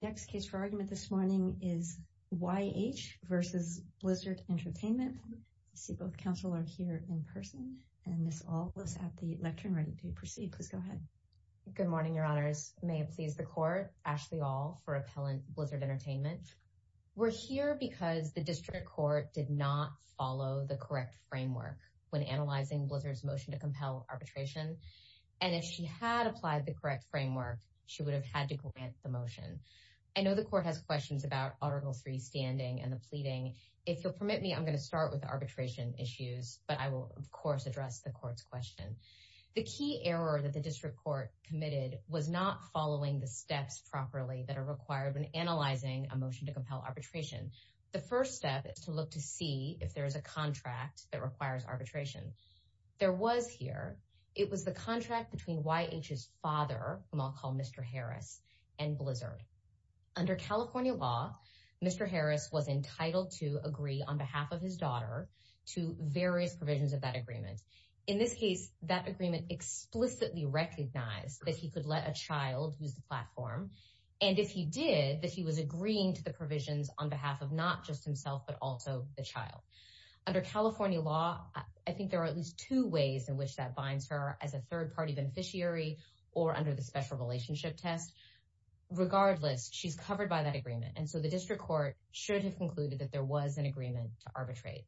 Next case for argument this morning is Y.H. v. Blizzard Entertainment. I see both counsel are here in person, and Ms. Aulis at the lectern, ready to proceed. Please go ahead. Good morning, your honors. May it please the court, Ashley Aul for Appellant Blizzard Entertainment. We're here because the district court did not follow the correct framework when analyzing Blizzard's motion to compel arbitration, and if she had applied the correct framework, she would have had to grant the motion. I know the court has questions about Article III standing and the pleading. If you'll permit me, I'm going to start with arbitration issues, but I will, of course, address the court's question. The key error that the district court committed was not following the steps properly that are required when analyzing a motion to compel arbitration. The first step is to look to see if there is a contract that requires arbitration. There was here. It was the contract between Y.H.'s father, whom I'll call Mr. Harris, and Blizzard. Under California law, Mr. Harris was entitled to agree on behalf of his daughter to various provisions of that agreement. In this case, that agreement explicitly recognized that he could let a child use the platform, and if he did, that he was agreeing to the provisions on behalf of not just himself, but also the child. Under California law, I think there are at least two ways in which that binds her as a third-party beneficiary or under the special relationship test. Regardless, she's covered by that agreement, and so the district court should have concluded that there was an agreement to arbitrate.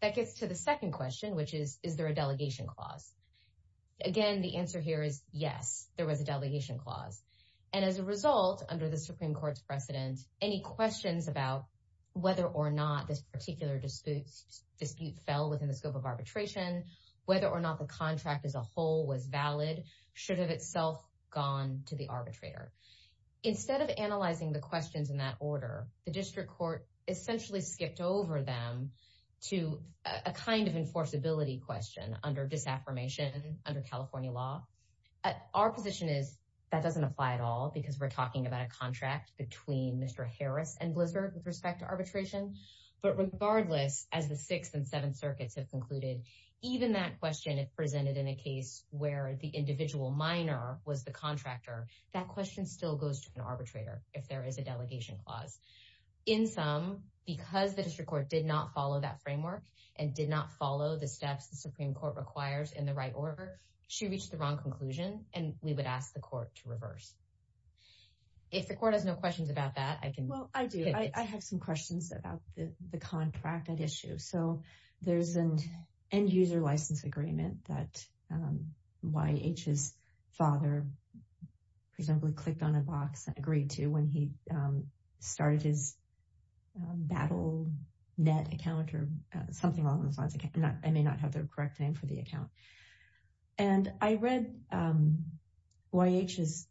That gets to the second question, which is, is there a delegation clause? Again, the answer here is yes, there was a delegation clause. As a result, under the Supreme Court's precedent, any questions about whether or not this particular dispute fell within the scope of arbitration, whether or not the contract as a whole was valid, should have itself gone to the arbitrator. Instead of analyzing the questions in that order, the district court essentially skipped over them to a kind of enforceability question under disaffirmation, under California law. Our position is that doesn't apply at all because we're talking about a contract between Mr. Harris and Blizzard with respect to arbitration, but regardless, as the Sixth and Seventh Circuits have concluded, even that question if presented in a case where the individual minor was the contractor, that question still goes to an arbitrator if there is a delegation clause. In sum, because the district court did not follow that framework and did not follow the steps the Supreme Court requires in the right order, she reached the wrong conclusion, and we would ask the court to reverse. If the court has no questions about that, I can- Well, I do. I have some questions about the contract at issue. So there's an end-user license agreement that YH's father presumably clicked on a box and agreed to when he started his BattleNet account or something along those lines. I may not have the correct name for the account. And I read YH's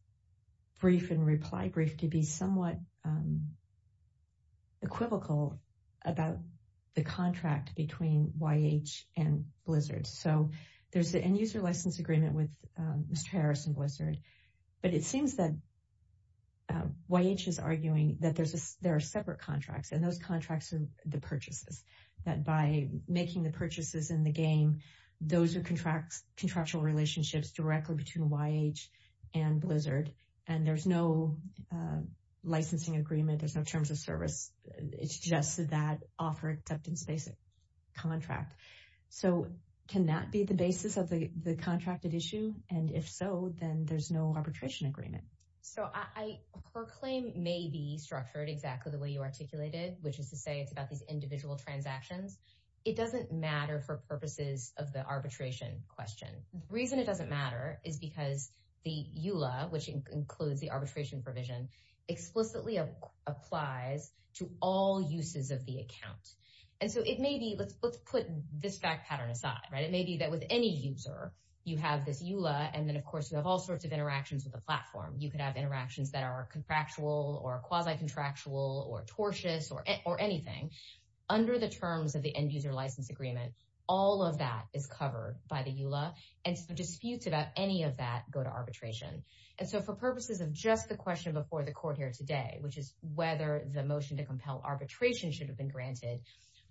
brief and reply brief to be somewhat equivocal about the contract between YH and Blizzard. So there's an end-user license agreement with Mr. Harris and Blizzard, but it seems that YH is arguing that there are separate contracts, and those contracts are the purchases, that by making the purchases in the game, those are contractual relationships directly between YH and Blizzard, and there's no licensing agreement. There's no terms of service. It's just that offer acceptance-based contract. So can that be the basis of the contract at issue? And if so, then there's no arbitration agreement. So her claim may be structured exactly the way you articulated, which is to say it's about these individual transactions. It doesn't matter for purposes of the arbitration question. The reason it doesn't matter is because the EULA, which includes the arbitration provision, explicitly applies to all uses of the account. And so it may be, let's put this fact pattern aside, right? It may be that with any user, you have this EULA, and then of course you have all sorts of interactions with the platform. You could have interactions that are contractual or quasi-contractual or tortious or anything. Under the terms of the end-user license agreement, all of that is covered by the EULA, and so disputes about any of that go to arbitration. And so for purposes of just the question before the court here today, which is whether the motion to compel arbitration should have been granted,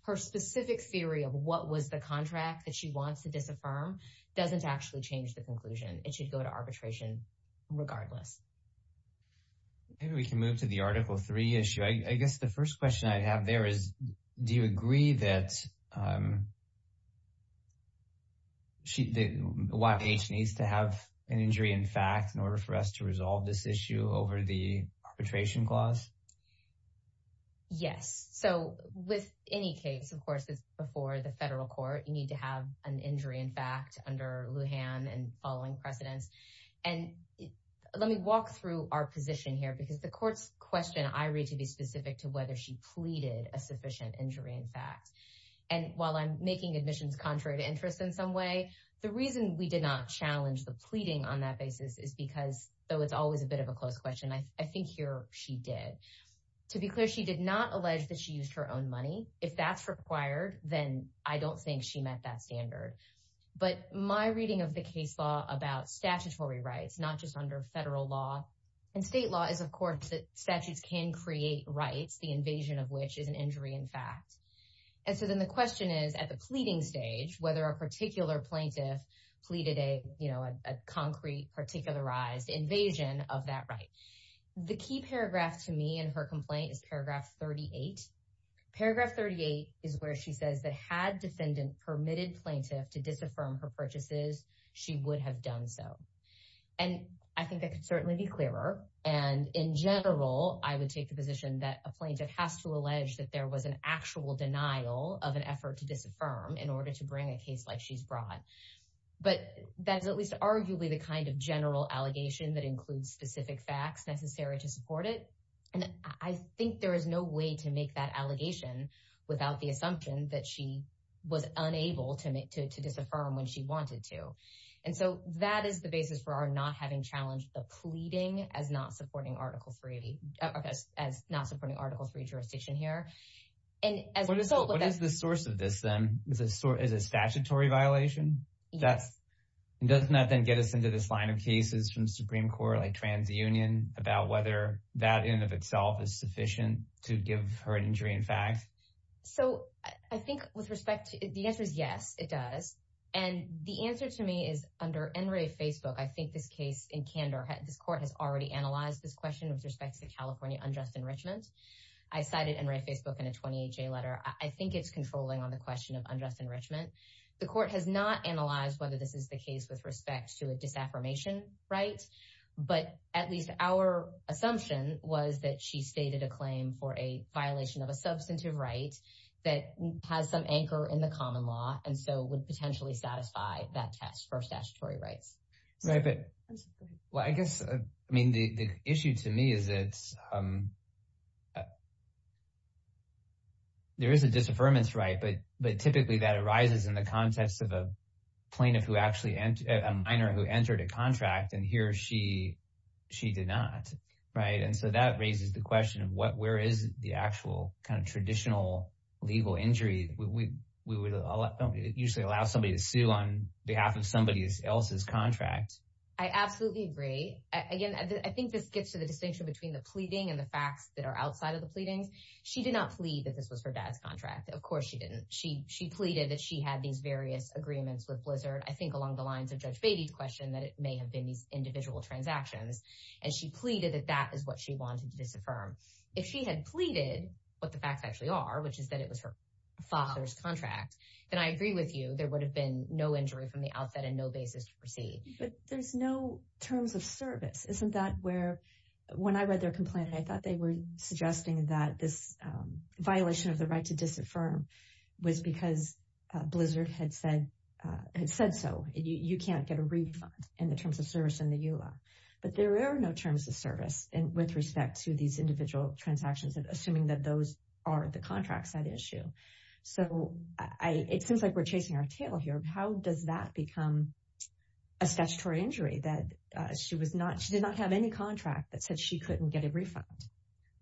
her specific theory of what was the contract that she wants to disaffirm doesn't actually change the conclusion. It should go to arbitration regardless. Maybe we can move to the Article III issue. I guess the first question I have there is, do you agree that YPH needs to have an injury in fact in order for us to resolve this issue over the arbitration clause? Yes. So with any case, of course, it's before the federal court. You need to have an injury in fact under Lujan and following precedents. And let me walk through our position here because the court's question, I read to be specific to whether she pleaded a sufficient injury in fact. And while I'm making admissions contrary to interest in some way, the reason we did not challenge the pleading on that basis is because, though it's always a bit of a close question, I think here she did. To be clear, she did not allege that she used her own money. If that's required, then I don't think she met that standard. But my reading of the case law about statutory rights, not just under federal law and state law, is of course that statutes can create rights, the invasion of which is an injury in fact. The plaintiff pleaded a concrete, particularized invasion of that right. The key paragraph to me in her complaint is paragraph 38. Paragraph 38 is where she says that had defendant permitted plaintiff to disaffirm her purchases, she would have done so. And I think that could certainly be clearer. And in general, I would take the position that a plaintiff has to allege that there was an actual denial of an effort to disaffirm in order to bring a case like she's brought. But that's at least arguably the kind of general allegation that includes specific facts necessary to support it. And I think there is no way to make that allegation without the assumption that she was unable to disaffirm when she wanted to. And so that is the basis for our not having challenged the pleading as not supporting article three, as not supporting article three jurisdiction here. And as a result, what is the source of this then? Is it a statutory violation? That's does not then get us into this line of cases from the Supreme Court, like TransUnion about whether that in and of itself is sufficient to give her an injury in fact. So I think with respect to the answer is yes, it does. And the answer to me is under NRA Facebook. I think this case in Canada, this court has already analyzed this question with respect to the California unjust enrichment. I cited NRA Facebook in a 28-J letter. I think it's controlling on the question of unjust enrichment. The court has not analyzed whether this is the case with respect to a disaffirmation right. But at least our assumption was that she stated a claim for a violation of a substantive right that has some anchor in the common law and so would potentially satisfy that test for statutory rights. Right, but well, I guess, I mean, the issue to me is that there is a disaffirmation right, but typically that arises in the context of a plaintiff who actually, a minor who entered a contract and he or she did not. Right. And so that raises the question of what, where is the actual kind of traditional legal injury? We would usually allow somebody to sue on behalf of somebody else's contract. I absolutely agree. Again, I think this gets to the distinction between the pleading and the facts that are outside of the pleadings. She did not plead that this was her dad's contract. Of course she didn't. She, she pleaded that she had these various agreements with Blizzard. I think along the lines of Judge Beatty's question that it may have been these individual transactions. And she pleaded that that is what she wanted to disaffirm. If she had pleaded what the facts actually are, which is that it was her father's contract, then I agree with you. There would have been no injury from the outset and no basis to proceed. But there's no terms of service. Isn't that where, when I read their complaint, I thought they were suggesting that this violation of the right to disaffirm was because Blizzard had said, had said, so you can't get a refund in the terms of service in the EULA, but there are no terms of service and with respect to these individual transactions and assuming that those are the contracts that issue. So I, it seems like we're chasing our tail here. How does that become a statutory injury that she was not, she did not have any contract that said she couldn't get a refund.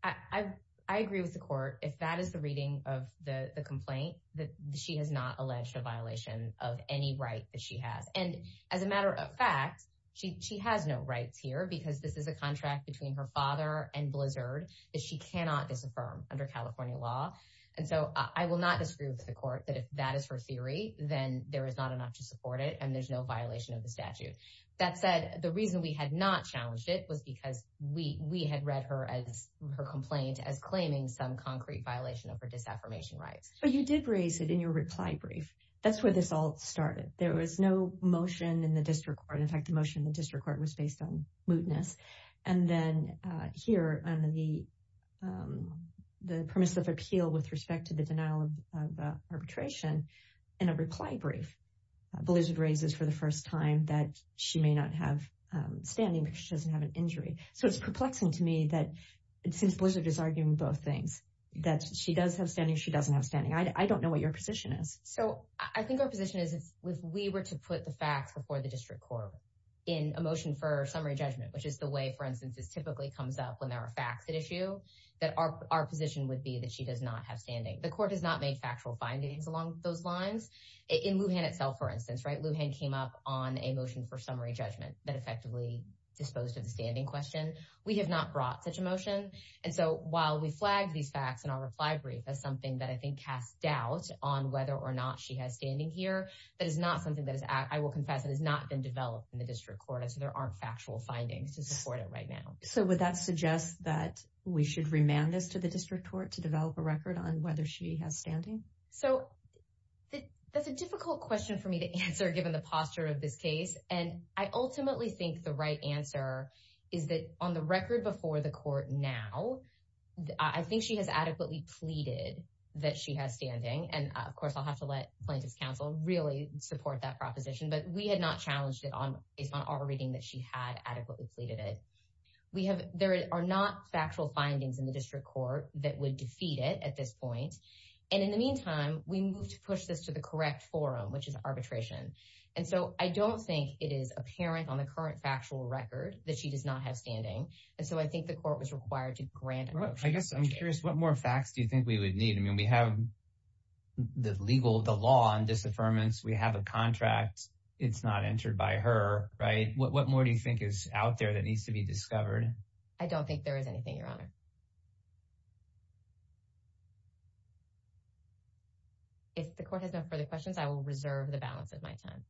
I, I agree with the court. If that is the reading of the complaint that she has not alleged a violation of any right that she has. And as a matter of fact, she, she has no rights here because this is a contract between her father and Blizzard that she cannot disaffirm under California law. And so I will not disagree with the court that if that is her theory, then there is not enough to support it. And there's no violation of the statute. That said, the reason we had not challenged it was because we, we had read her as her complaint as claiming some concrete violation of her disaffirmation rights. But you did raise it in your reply brief. That's where this all started. There was no motion in the district court. In fact, the motion in the district court was based on mootness. And then here on the, the premise of appeal with respect to the denial of arbitration in a reply brief, Blizzard raises for the first time that she may not have standing because she doesn't have an injury. So it's perplexing to me that since Blizzard is arguing both things, that she does have standing, she doesn't have standing. I don't know what your position is. So I think our position is if we were to put the facts before the district court in a motion for summary judgment, which is the way, for instance, this typically comes up when there are facts at issue, that our position would be that she does not have standing. The court has not made factual findings along those lines. In Lujan itself, for instance, right? Lujan came up on a motion for summary judgment that effectively disposed of the standing question. We have not brought such a motion. And so while we flagged these facts in our reply brief as something that I think casts doubt on whether or not she has standing here, that is not something that is, I will confess, that has not been developed in the district court. And so there aren't factual findings to support it right now. So would that suggest that we should remand this to the district court to develop a record on whether she has standing? So that's a difficult question for me to answer given the posture of this case. And I ultimately think the right answer is that on the record before the court now, I think she has adequately pleaded that she has standing. And of course, I'll have to let plaintiff's counsel really support that proposition, but we had not challenged it based on our reading that she had adequately pleaded it. We have, there are not factual findings in the district court that would defeat it at this point. And in the meantime, we moved to push this to the correct forum, which is arbitration. And so I don't think it is apparent on the current factual record that she does not have standing. And so I think the court was required to grant a motion. I guess I'm curious, what more facts do you think we would need? I mean, we have the legal, the law on disaffirmance. We have a contract. It's not entered by her, right? What more do you think is out there that needs to be discovered? I don't think there is anything, Your Honor. If the court has no further questions, I will reserve the balance of my time.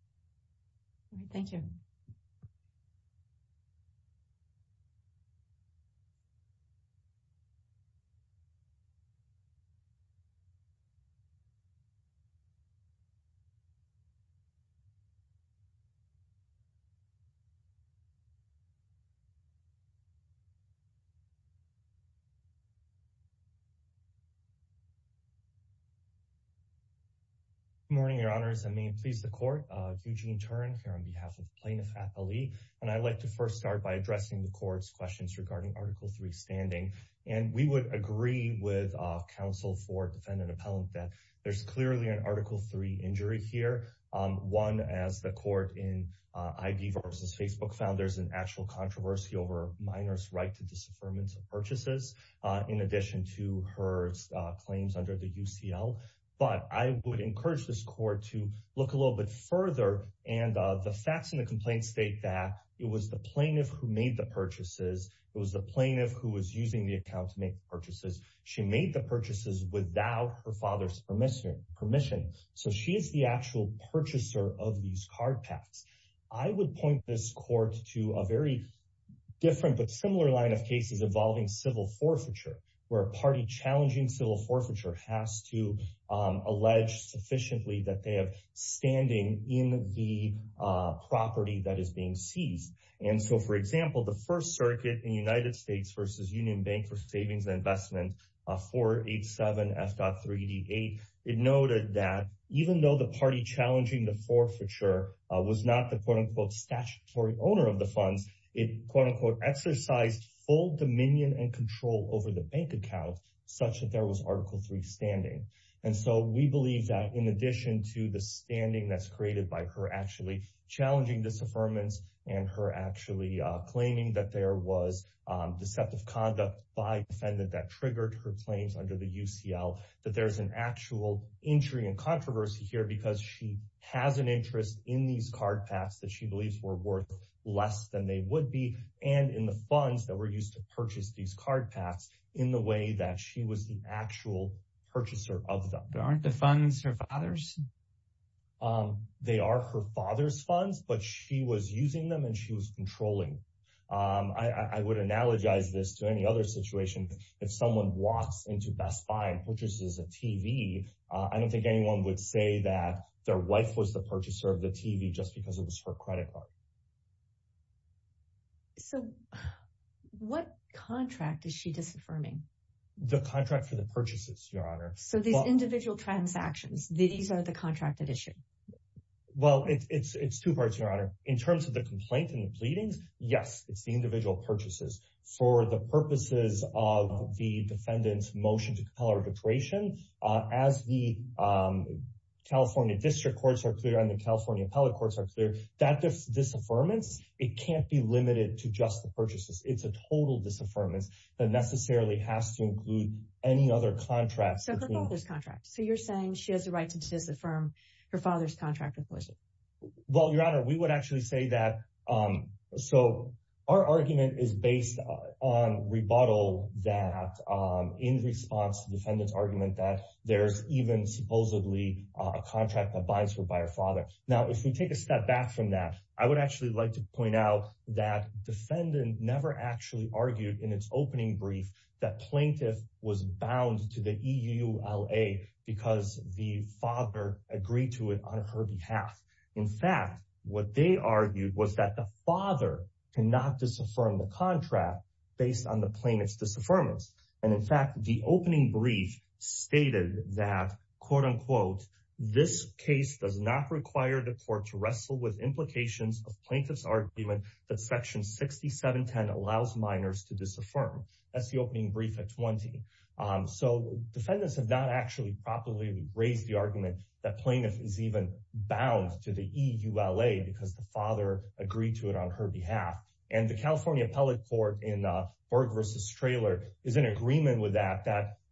Thank you. Good morning, Your Honors. And may it please the court, Eugene Turin here on behalf of Plaintiff Appellee, and I'd like to first start by addressing the court's questions regarding article three standing. And we would agree with counsel for defendant appellant that there's clearly an article three injury here. One, as the court in ID versus Facebook found there's an actual controversy over minors' right to disaffirmation purchases in addition to her claims under the UCL, but I would encourage this court to look a little bit further. And the facts in the complaint state that it was the plaintiff who made the account to make purchases. She made the purchases without her father's permission. So she is the actual purchaser of these card packs. I would point this court to a very different but similar line of cases involving civil forfeiture, where a party challenging civil forfeiture has to allege sufficiently that they have standing in the property that is being seized. And so, for example, the First Circuit in United States versus Union Bank for Savings and Investment, 487 F.3D8, it noted that even though the party challenging the forfeiture was not the quote unquote statutory owner of the funds, it quote unquote exercised full dominion and control over the bank account such that there was article three standing. And so we believe that in addition to the standing that's created by her actually challenging disaffirmance and her actually claiming that there was deceptive conduct by defendant that triggered her claims under the UCL, that there's an actual injury and controversy here because she has an interest in these card packs that she believes were worth less than they would be and in the funds that were used to purchase these card packs in the way that she was the actual purchaser of them. But aren't the funds her father's? They are her father's funds, but she was using them and she was controlling. I would analogize this to any other situation. If someone walks into Best Buy and purchases a TV, I don't think anyone would say that their wife was the purchaser of the TV just because it was her credit card. So what contract is she disaffirming? The contract for the purchases, Your Honor. So these individual transactions, these are the contracted issue? Well, it's two parts, Your Honor. In terms of the complaint and the pleadings, yes, it's the individual purchases. For the purposes of the defendant's motion to compel her declaration, as the California district courts are clear and the California appellate courts are clear, that disaffirmance, it can't be limited to just the purchases. It's a total disaffirmance that necessarily has to include any other contracts. So her father's contract. So you're saying she has a right to disaffirm her father's contract with her father? I would actually say that. So our argument is based on rebuttal that in response to the defendant's argument that there's even supposedly a contract that binds her by her father. Now, if we take a step back from that, I would actually like to point out that defendant never actually argued in its opening brief that plaintiff was bound to the EULA because the father agreed to it on her behalf. In fact, what they argued was that the father cannot disaffirm the contract based on the plaintiff's disaffirmance. And in fact, the opening brief stated that, quote unquote, this case does not require the court to wrestle with implications of plaintiff's argument that section 6710 allows minors to disaffirm. That's the opening brief at 20. So defendants have not actually properly raised the argument that plaintiff was bound to the EULA because the father agreed to it on her behalf. And the California Appellate Court in Berg versus Traylor is in agreement with that.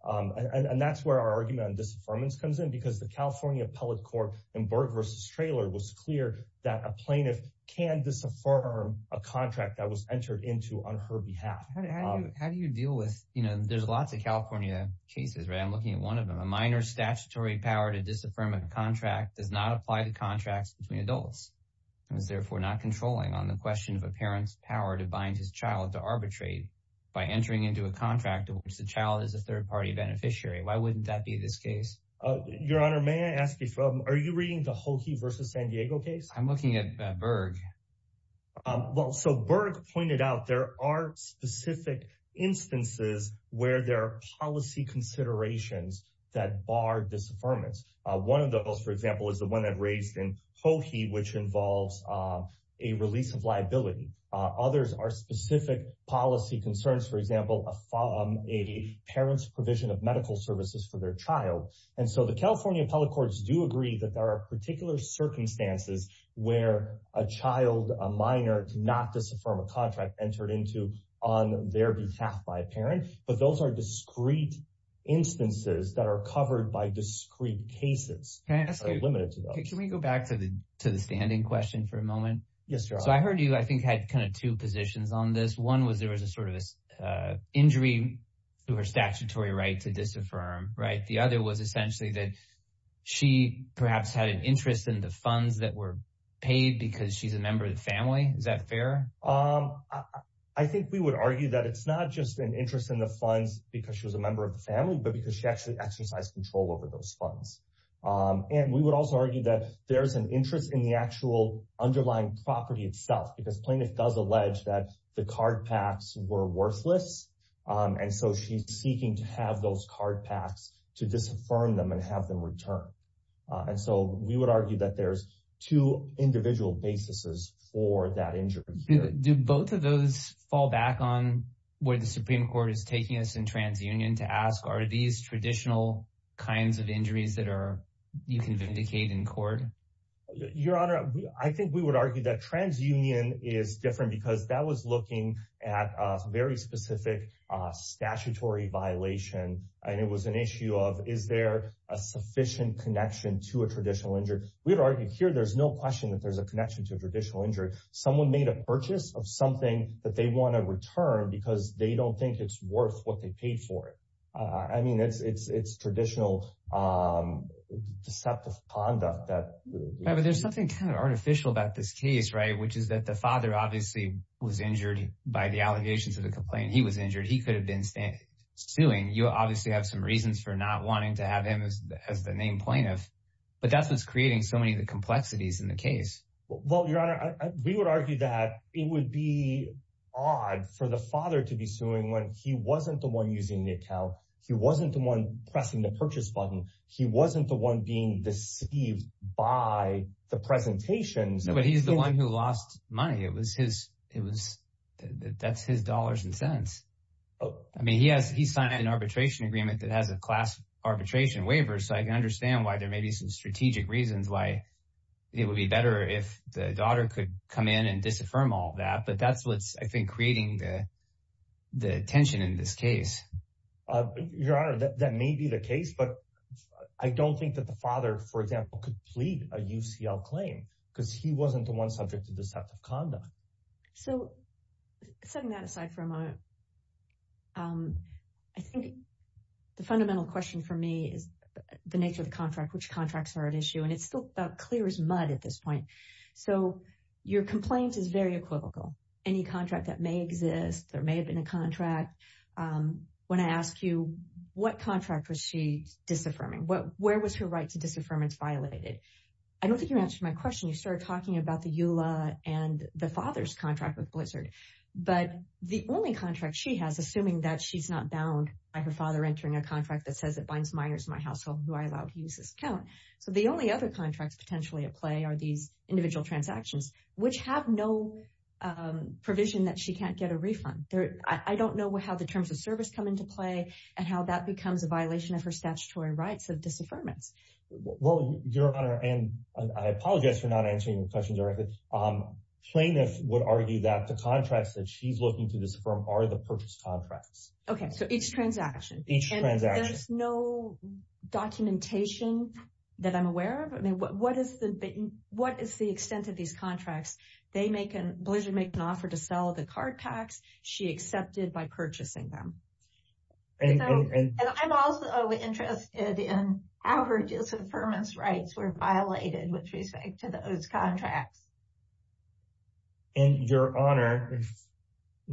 And that's where our argument on disaffirmance comes in, because the California Appellate Court in Berg versus Traylor was clear that a plaintiff can disaffirm a contract that was entered into on her behalf. How do you deal with, you know, there's lots of California cases, right? I'm looking at one of them. A minor statutory power to disaffirm a contract does not apply to contracts between adults and is therefore not controlling on the question of a parent's power to bind his child to arbitrate by entering into a contract in which the child is a third party beneficiary. Why wouldn't that be this case? Your Honor, may I ask you from, are you reading the Hokey versus San Diego case? I'm looking at Berg. Well, so Berg pointed out there are specific instances where there are policy considerations that bar disaffirmance. One of those, for example, is the one that raised in Hokey, which involves a release of liability. Others are specific policy concerns. For example, a parent's provision of medical services for their child. And so the California Appellate Courts do agree that there are particular circumstances where a child, a minor, did not disaffirm a contract entered into on their behalf by a parent. But those are discrete instances that are covered by discrete cases. Can I ask, can we go back to the standing question for a moment? Yes, Your Honor. So I heard you, I think, had kind of two positions on this. One was there was a sort of injury to her statutory right to disaffirm, right? The other was essentially that she perhaps had an interest in the funds that were paid because she's a member of the family. Is that fair? I think we would argue that it's not just an interest in the funds because she was a member of the family, but because she actually exercised control over those funds. And we would also argue that there's an interest in the actual underlying property itself, because plaintiff does allege that the card packs were worthless. And so she's seeking to have those card packs to disaffirm them and have them return. And so we would argue that there's two individual basis for that injury. Do both of those fall back on where the Supreme Court is taking us in TransUnion to ask are these traditional kinds of injuries that you can vindicate in court? Your Honor, I think we would argue that TransUnion is different because that was looking at a very specific statutory violation. And it was an issue of is there a sufficient connection to a traditional injury? We would argue here there's no question that there's a connection to a traditional injury. Someone made a purchase of something that they want to return because they don't think it's worth what they paid for it. I mean, it's traditional deceptive conduct. But there's something kind of artificial about this case, right? Which is that the father obviously was injured by the allegations of the complaint. He was injured. He could have been suing. You obviously have some reasons for not wanting to have him as the named plaintiff. But that's what's creating so many of the complexities in the case. Well, Your Honor, we would argue that it would be odd for the father to be suing when he wasn't the one using the account. He wasn't the one pressing the purchase button. He wasn't the one being deceived by the presentations. But he's the one who lost money. That's his dollars and cents. I mean, he signed an arbitration agreement that has a class arbitration waiver. So I can understand why there may be some strategic reasons why it would be better if the daughter could come in and disaffirm all that. But that's what's, I think, creating the tension in this case. Your Honor, that may be the case. But I don't think that the father, for example, could plead a UCL claim. Because he wasn't the one subject to deceptive conduct. So, setting that aside for a moment, I think the fundamental question for me is the nature of the contract. Which contracts are at issue? And it's still about clear as mud at this point. So, your complaint is very equivocal. Any contract that may exist, there may have been a contract. When I ask you, what contract was she disaffirming? Where was her right to disaffirmance violated? I don't think you answered my question. You started talking about the EULA and the father's contract with Blizzard. But the only contract she has, assuming that she's not bound by her father entering a contract that says it binds minors in my household who I allow to use this account. So, the only other contracts potentially at play are these individual transactions. Which have no provision that she can't get a refund. I don't know how the terms of service come into play and how that becomes a violation of her statutory rights of disaffirmance. Well, your Honor, and I apologize for not answering your questions directly. Plaintiffs would argue that the contracts that she's looking to disaffirm are the purchase contracts. Okay, so each transaction. Each transaction. There's no documentation that I'm aware of. What is the extent of these contracts? They make an, Blizzard make an offer to sell the card packs. She accepted by purchasing them. And I'm also interested in how her disaffirmance rights were violated with respect to those contracts. And your Honor,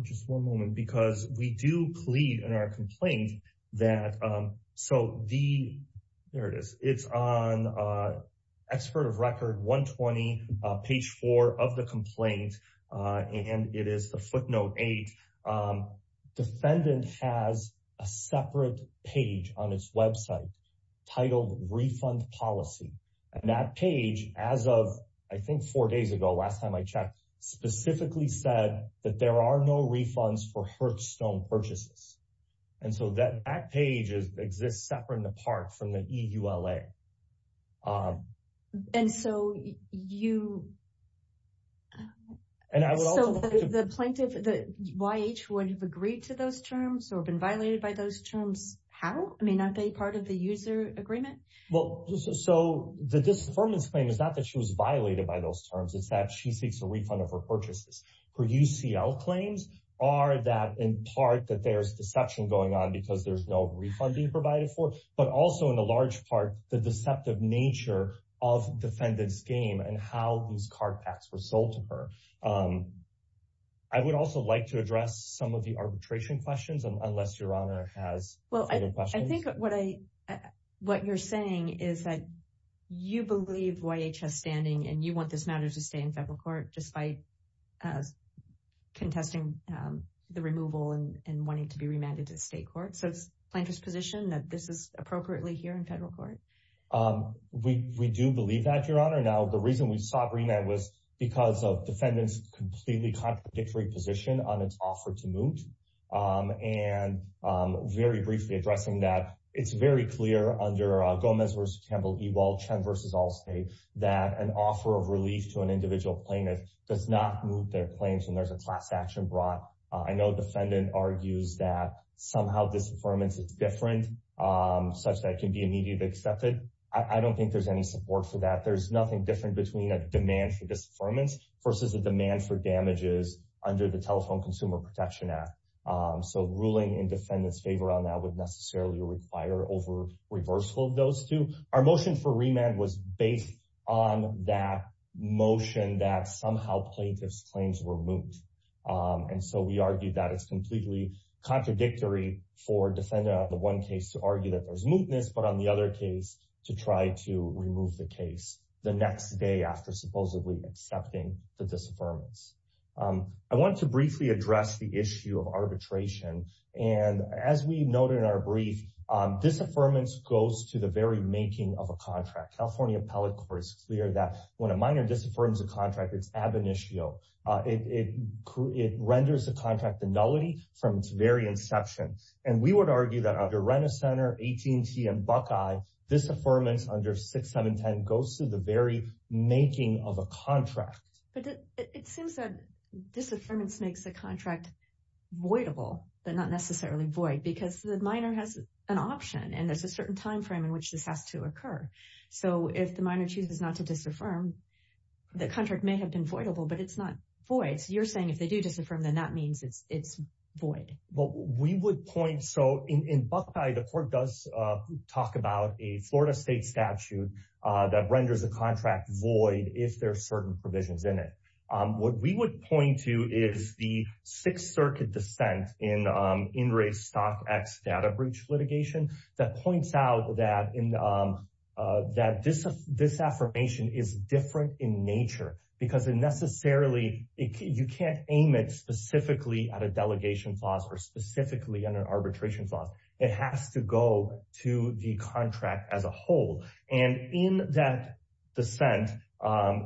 just one moment. Because we do plead in our complaint that, so the, there it is. It's on Expert of Record 120, page four of the complaint. And it is the footnote eight. Defendant has a separate page on its website titled Refund Policy. And that page, as of, I think four days ago, last time I checked, specifically said that there are no refunds for Hearthstone purchases. And so that page exists separate and apart from the EULA. And so you, so the plaintiff, the YH would have agreed to those terms or been violated by those terms? How? I mean, aren't they part of the user agreement? Well, so the disaffirmance claim is not that she was violated by those terms. It's that she seeks a refund of her purchases. Her UCL claims are that, in part, that there's deception going on because there's no refund being provided for. But also, in a large part, the deceptive nature of defendant's game and how those card packs were sold to her. I would also like to address some of the arbitration questions, unless Your Honor has further questions. Well, I think what I, what you're saying is that you believe YHS standing and you want this matter to stay in federal court despite contesting the removal and wanting to be remanded to state court. So is the plaintiff's position that this is appropriately here in federal court? We do believe that, Your Honor. Now, the reason we sought remand was because of defendant's completely contradictory position on its offer to moot. And very briefly addressing that, it's very clear under Gomez v. Campbell, Ewald, Chen v. Allstate that an offer of relief to an individual plaintiff does not moot their claims when there's a class action brought. I know defendant argues that somehow disaffirmance is different, such that it can be immediately accepted. I don't think there's any support for that. There's nothing different between a demand for disaffirmance versus a demand for damages under the Telephone Consumer Protection Act. So ruling in defendant's favor on that would necessarily require over-reversal of those two. Our motion for remand was based on that motion that somehow plaintiff's claims were moot. And so we argued that it's completely contradictory for defendant on the one case to argue that there's mootness, but on the other case to try to remove the case the next day after supposedly accepting the disaffirmance. I want to briefly address the issue of arbitration. And as we noted in our brief, disaffirmance goes to the very making of a contract. California Appellate Court is clear that when a minor disaffirms a contract, it's ab initio. It renders the contract a nullity from its very inception. And we would argue that under Renner Center, AT&T, and Buckeye, disaffirmance under 6710 goes to the very making of a contract. But it seems that disaffirmance makes the contract voidable, but not necessarily void, because the minor has an option and there's a certain timeframe in which this has to occur. So if the minor chooses not to disaffirm, the contract may have been voidable, but it's not void. So you're saying if they do disaffirm, then that means it's void. Well, we would point... So in Buckeye, the court does talk about a Florida state statute that renders a contract void if there are certain provisions in it. What we would point to is the Sixth Circuit dissent in In Re Stock X data breach litigation that points out that this affirmation is different in nature because it necessarily, you can't aim it specifically at a delegation clause or specifically on an arbitration clause. It has to go to the contract as a whole. And in that dissent,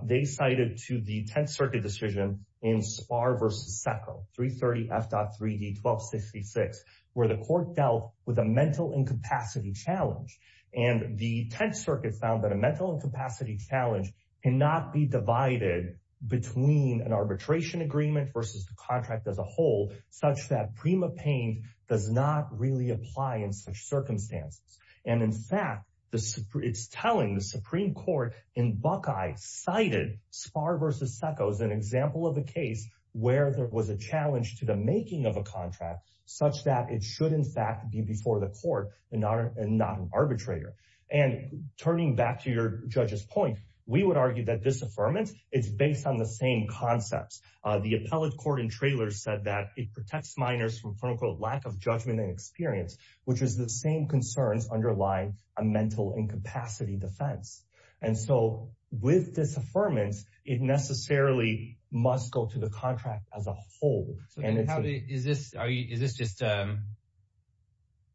they cited to the Tenth Circuit decision in Spahr v. Seko, 330 F.3D 1266, where the court dealt with a mental incapacity challenge. And the Tenth Circuit found that a mental incapacity challenge cannot be divided between an arbitration agreement versus the contract as a whole, such that prima paine does not really apply in such circumstances. And in fact, it's telling the Supreme Court in Buckeye cited Spahr v. Seko as an example of a case where there was a challenge to the making of a contract such that it should in fact be before the court and not an arbitrator. And turning back to your judge's point, we would argue that this affirmance is based on the same concepts. The appellate court in Traylor said that it protects minors from quote unquote lack of judgment and experience, which is the same concerns underlying a mental incapacity defense. And so with this affirmance, it necessarily must go to the contract as a whole. And it's- So then is this just, are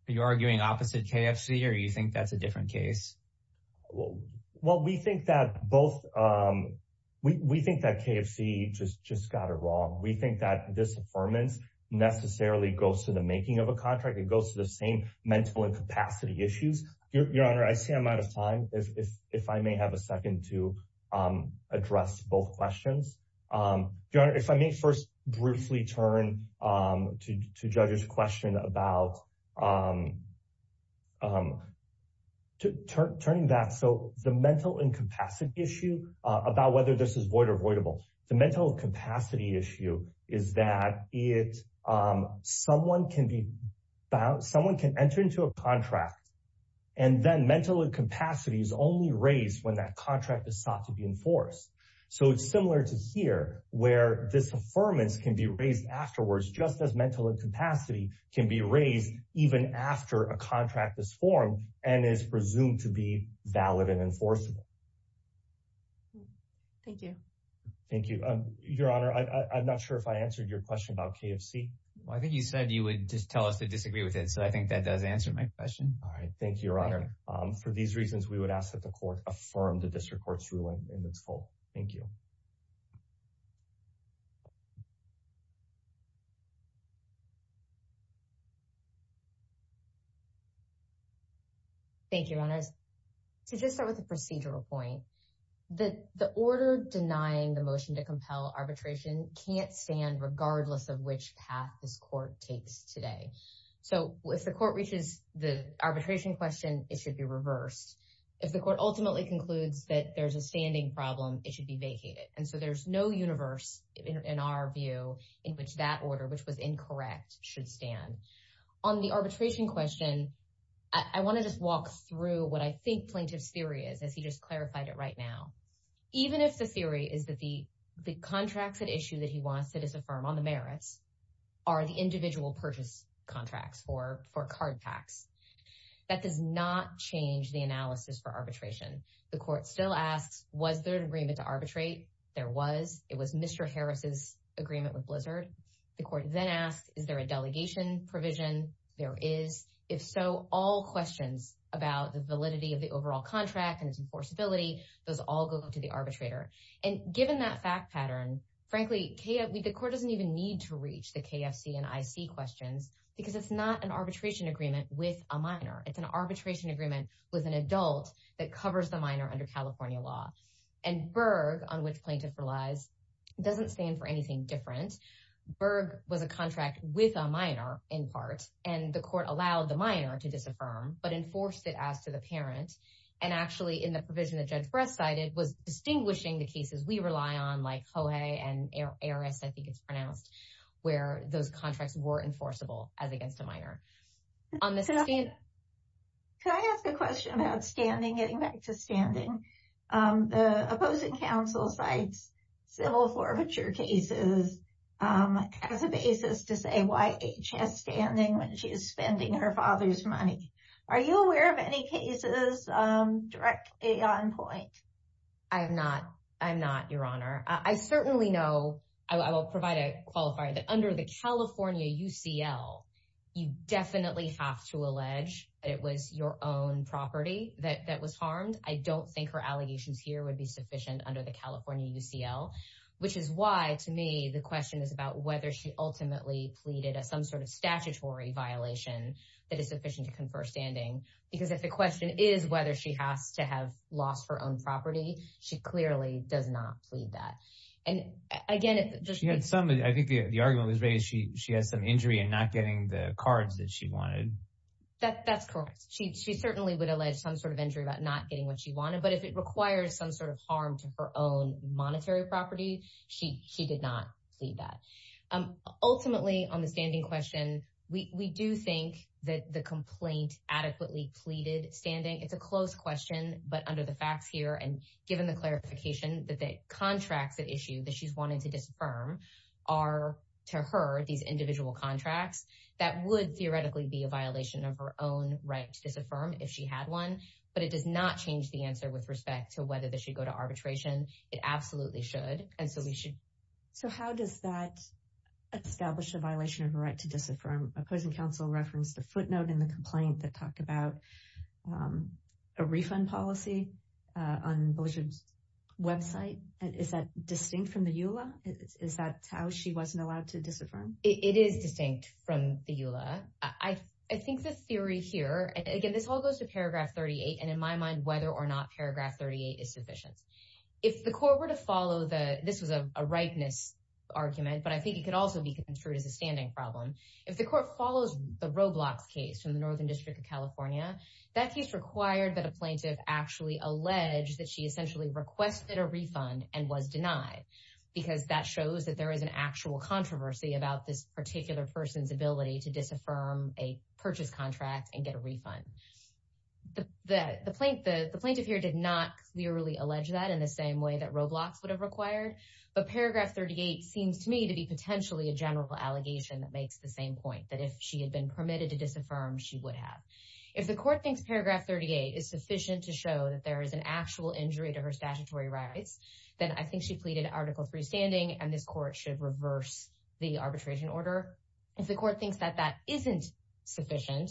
you arguing opposite KFC or you think that's a different case? Well, we think that both, we think that KFC just got it wrong. We think that this affirmance necessarily goes to the making of a contract. It goes to the same mental incapacity issues. Your Honor, I see I'm out of time. If I may have a second to address both questions. Your Honor, if I may first briefly turn to Judge's question about turning back. So the mental incapacity issue about whether this is void or avoidable. The mental capacity issue is that someone can be, someone can enter into a contract and then mental incapacity is only raised when that contract is sought to be enforced. So it's similar to here where this affirmance can be raised afterwards, just as mental incapacity can be raised even after a contract is formed and is presumed to be valid and enforceable. Thank you. Thank you. Your Honor, I'm not sure if I answered your question about KFC. Well, I think you said you would just tell us to disagree with it. So I think that does answer my question. All right. Thank you, Your Honor. For these reasons, we would ask that the court affirm the district court's ruling in its full. Thank you. Thank you, Your Honors. To just start with a procedural point, the order denying the motion to compel arbitration can't stand regardless of which path this court takes today. So if the court reaches the arbitration question, it should be reversed. If the court ultimately concludes that there's a standing problem, it should be vacated. And so there's no universe in our view in which that order, which was incorrect, should stand. On the arbitration question, I want to just walk through what I think plaintiff's theory is, as he just clarified it right now. Even if the theory is that the contracts at issue that he wants to disaffirm on the merits are the individual purchase contracts for card packs, that does not change the analysis for arbitration. The court still asks, was there an agreement to arbitrate? There was. It was Mr. Harris's agreement with Blizzard. The court then asks, is there a delegation provision? There is. If so, all questions about the validity of the overall contract and its enforceability, those all go to the arbitrator. And given that fact pattern, frankly, the court doesn't even need to reach the KFC and IC questions because it's not an arbitration agreement with a minor. It's an arbitration agreement with an adult that covers the minor under California law. And Berg, on which plaintiff relies, doesn't stand for anything different. Berg was a contract with a minor in part, and the court allowed the minor to disaffirm, but enforced it as to the parent. And actually in the provision that Judge Brest cited was distinguishing the cases we rely on, like Hohey and Aris, I think it's pronounced, where those contracts were enforceable as against a minor. On the standing... Can I ask a question about standing, getting back to standing? The opposing counsel cites civil forfeiture cases as a basis to say why H has standing when she is spending her father's money. Are you aware of any cases directly on point? I'm not, Your Honor. I certainly know, I will provide a qualifier, that under the California UCL, you definitely have to allege that it was your own property that was harmed. I don't think her allegations here would be sufficient under the California UCL, which is why, to me, the question is about whether she ultimately pleaded at some sort of statutory violation that is sufficient to confer standing. Because if the question is whether she has to have lost her own property, she clearly does not plead that. And again, it just... She had some, I think the argument was raised, she has some injury in not getting the cards that she wanted. That's correct. She certainly would allege some sort of injury about not getting what she wanted, but if it requires some sort of harm to her own monetary property, she did not plead that. Ultimately, on the standing question, we do think that the complaint adequately pleaded standing. It's a close question, but under the facts here, and given the clarification that the contracts at issue that she's wanting to disaffirm are, to her, these individual contracts, that would theoretically be a violation of her own right to disaffirm if she had one, but it does not change the answer with respect to whether they should go to arbitration. It absolutely should. And so we should... So how does that establish a violation of her right to disaffirm? Opposing counsel referenced a footnote in the complaint that talked about a refund policy on Belliger's website. Is that distinct from the EULA? Is that how she wasn't allowed to disaffirm? It is distinct from the EULA. I think the theory here, again, this all goes to paragraph 38, and in my mind, whether or not paragraph 38 is sufficient. If the court were to follow the... This was a rightness argument, but I think it could also be construed as a standing problem. If the court follows the Roblox case from the Northern District of California, that case required that a plaintiff actually allege that she essentially requested a refund and was denied, because that shows that there is an actual controversy about this particular person's ability to disaffirm a purchase contract and get a refund. The plaintiff here did not clearly allege that in the same way that Roblox would have required, but paragraph 38 seems to me to be potentially a general allegation that makes the same point, that if she had been permitted to disaffirm, she would have. If the court thinks paragraph 38 is sufficient to show that there is an actual injury to her statutory rights, then I think she pleaded Article III standing, and this court should reverse the arbitration order. If the court thinks that that isn't sufficient,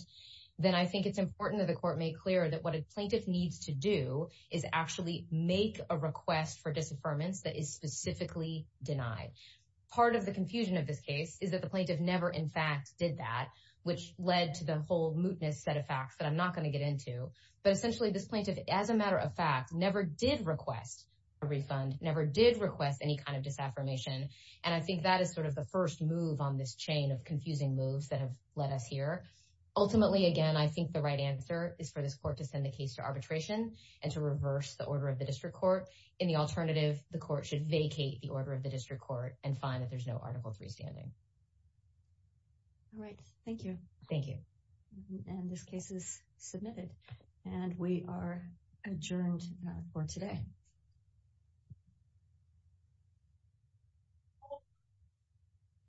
then I think it's important that the court make clear that what a plaintiff needs to do is actually make a request for disaffirmance that is specifically denied. Part of the confusion of this case is that the plaintiff never, in fact, did that, which led to the whole mootness set of facts that I'm not going to get into, but essentially this plaintiff, as a matter of fact, never did request a refund, never did request any kind of disaffirmation, and I think that is sort of the first move on this chain of confusing moves that have led us here. Ultimately, again, I think the right answer is for this court to send the case to arbitration and to reverse the order of the district court. In the alternative, the court should vacate the order of the district court and find that there's no Article III standing. All right, thank you. Thank you. And this case is submitted, and we are adjourned for today.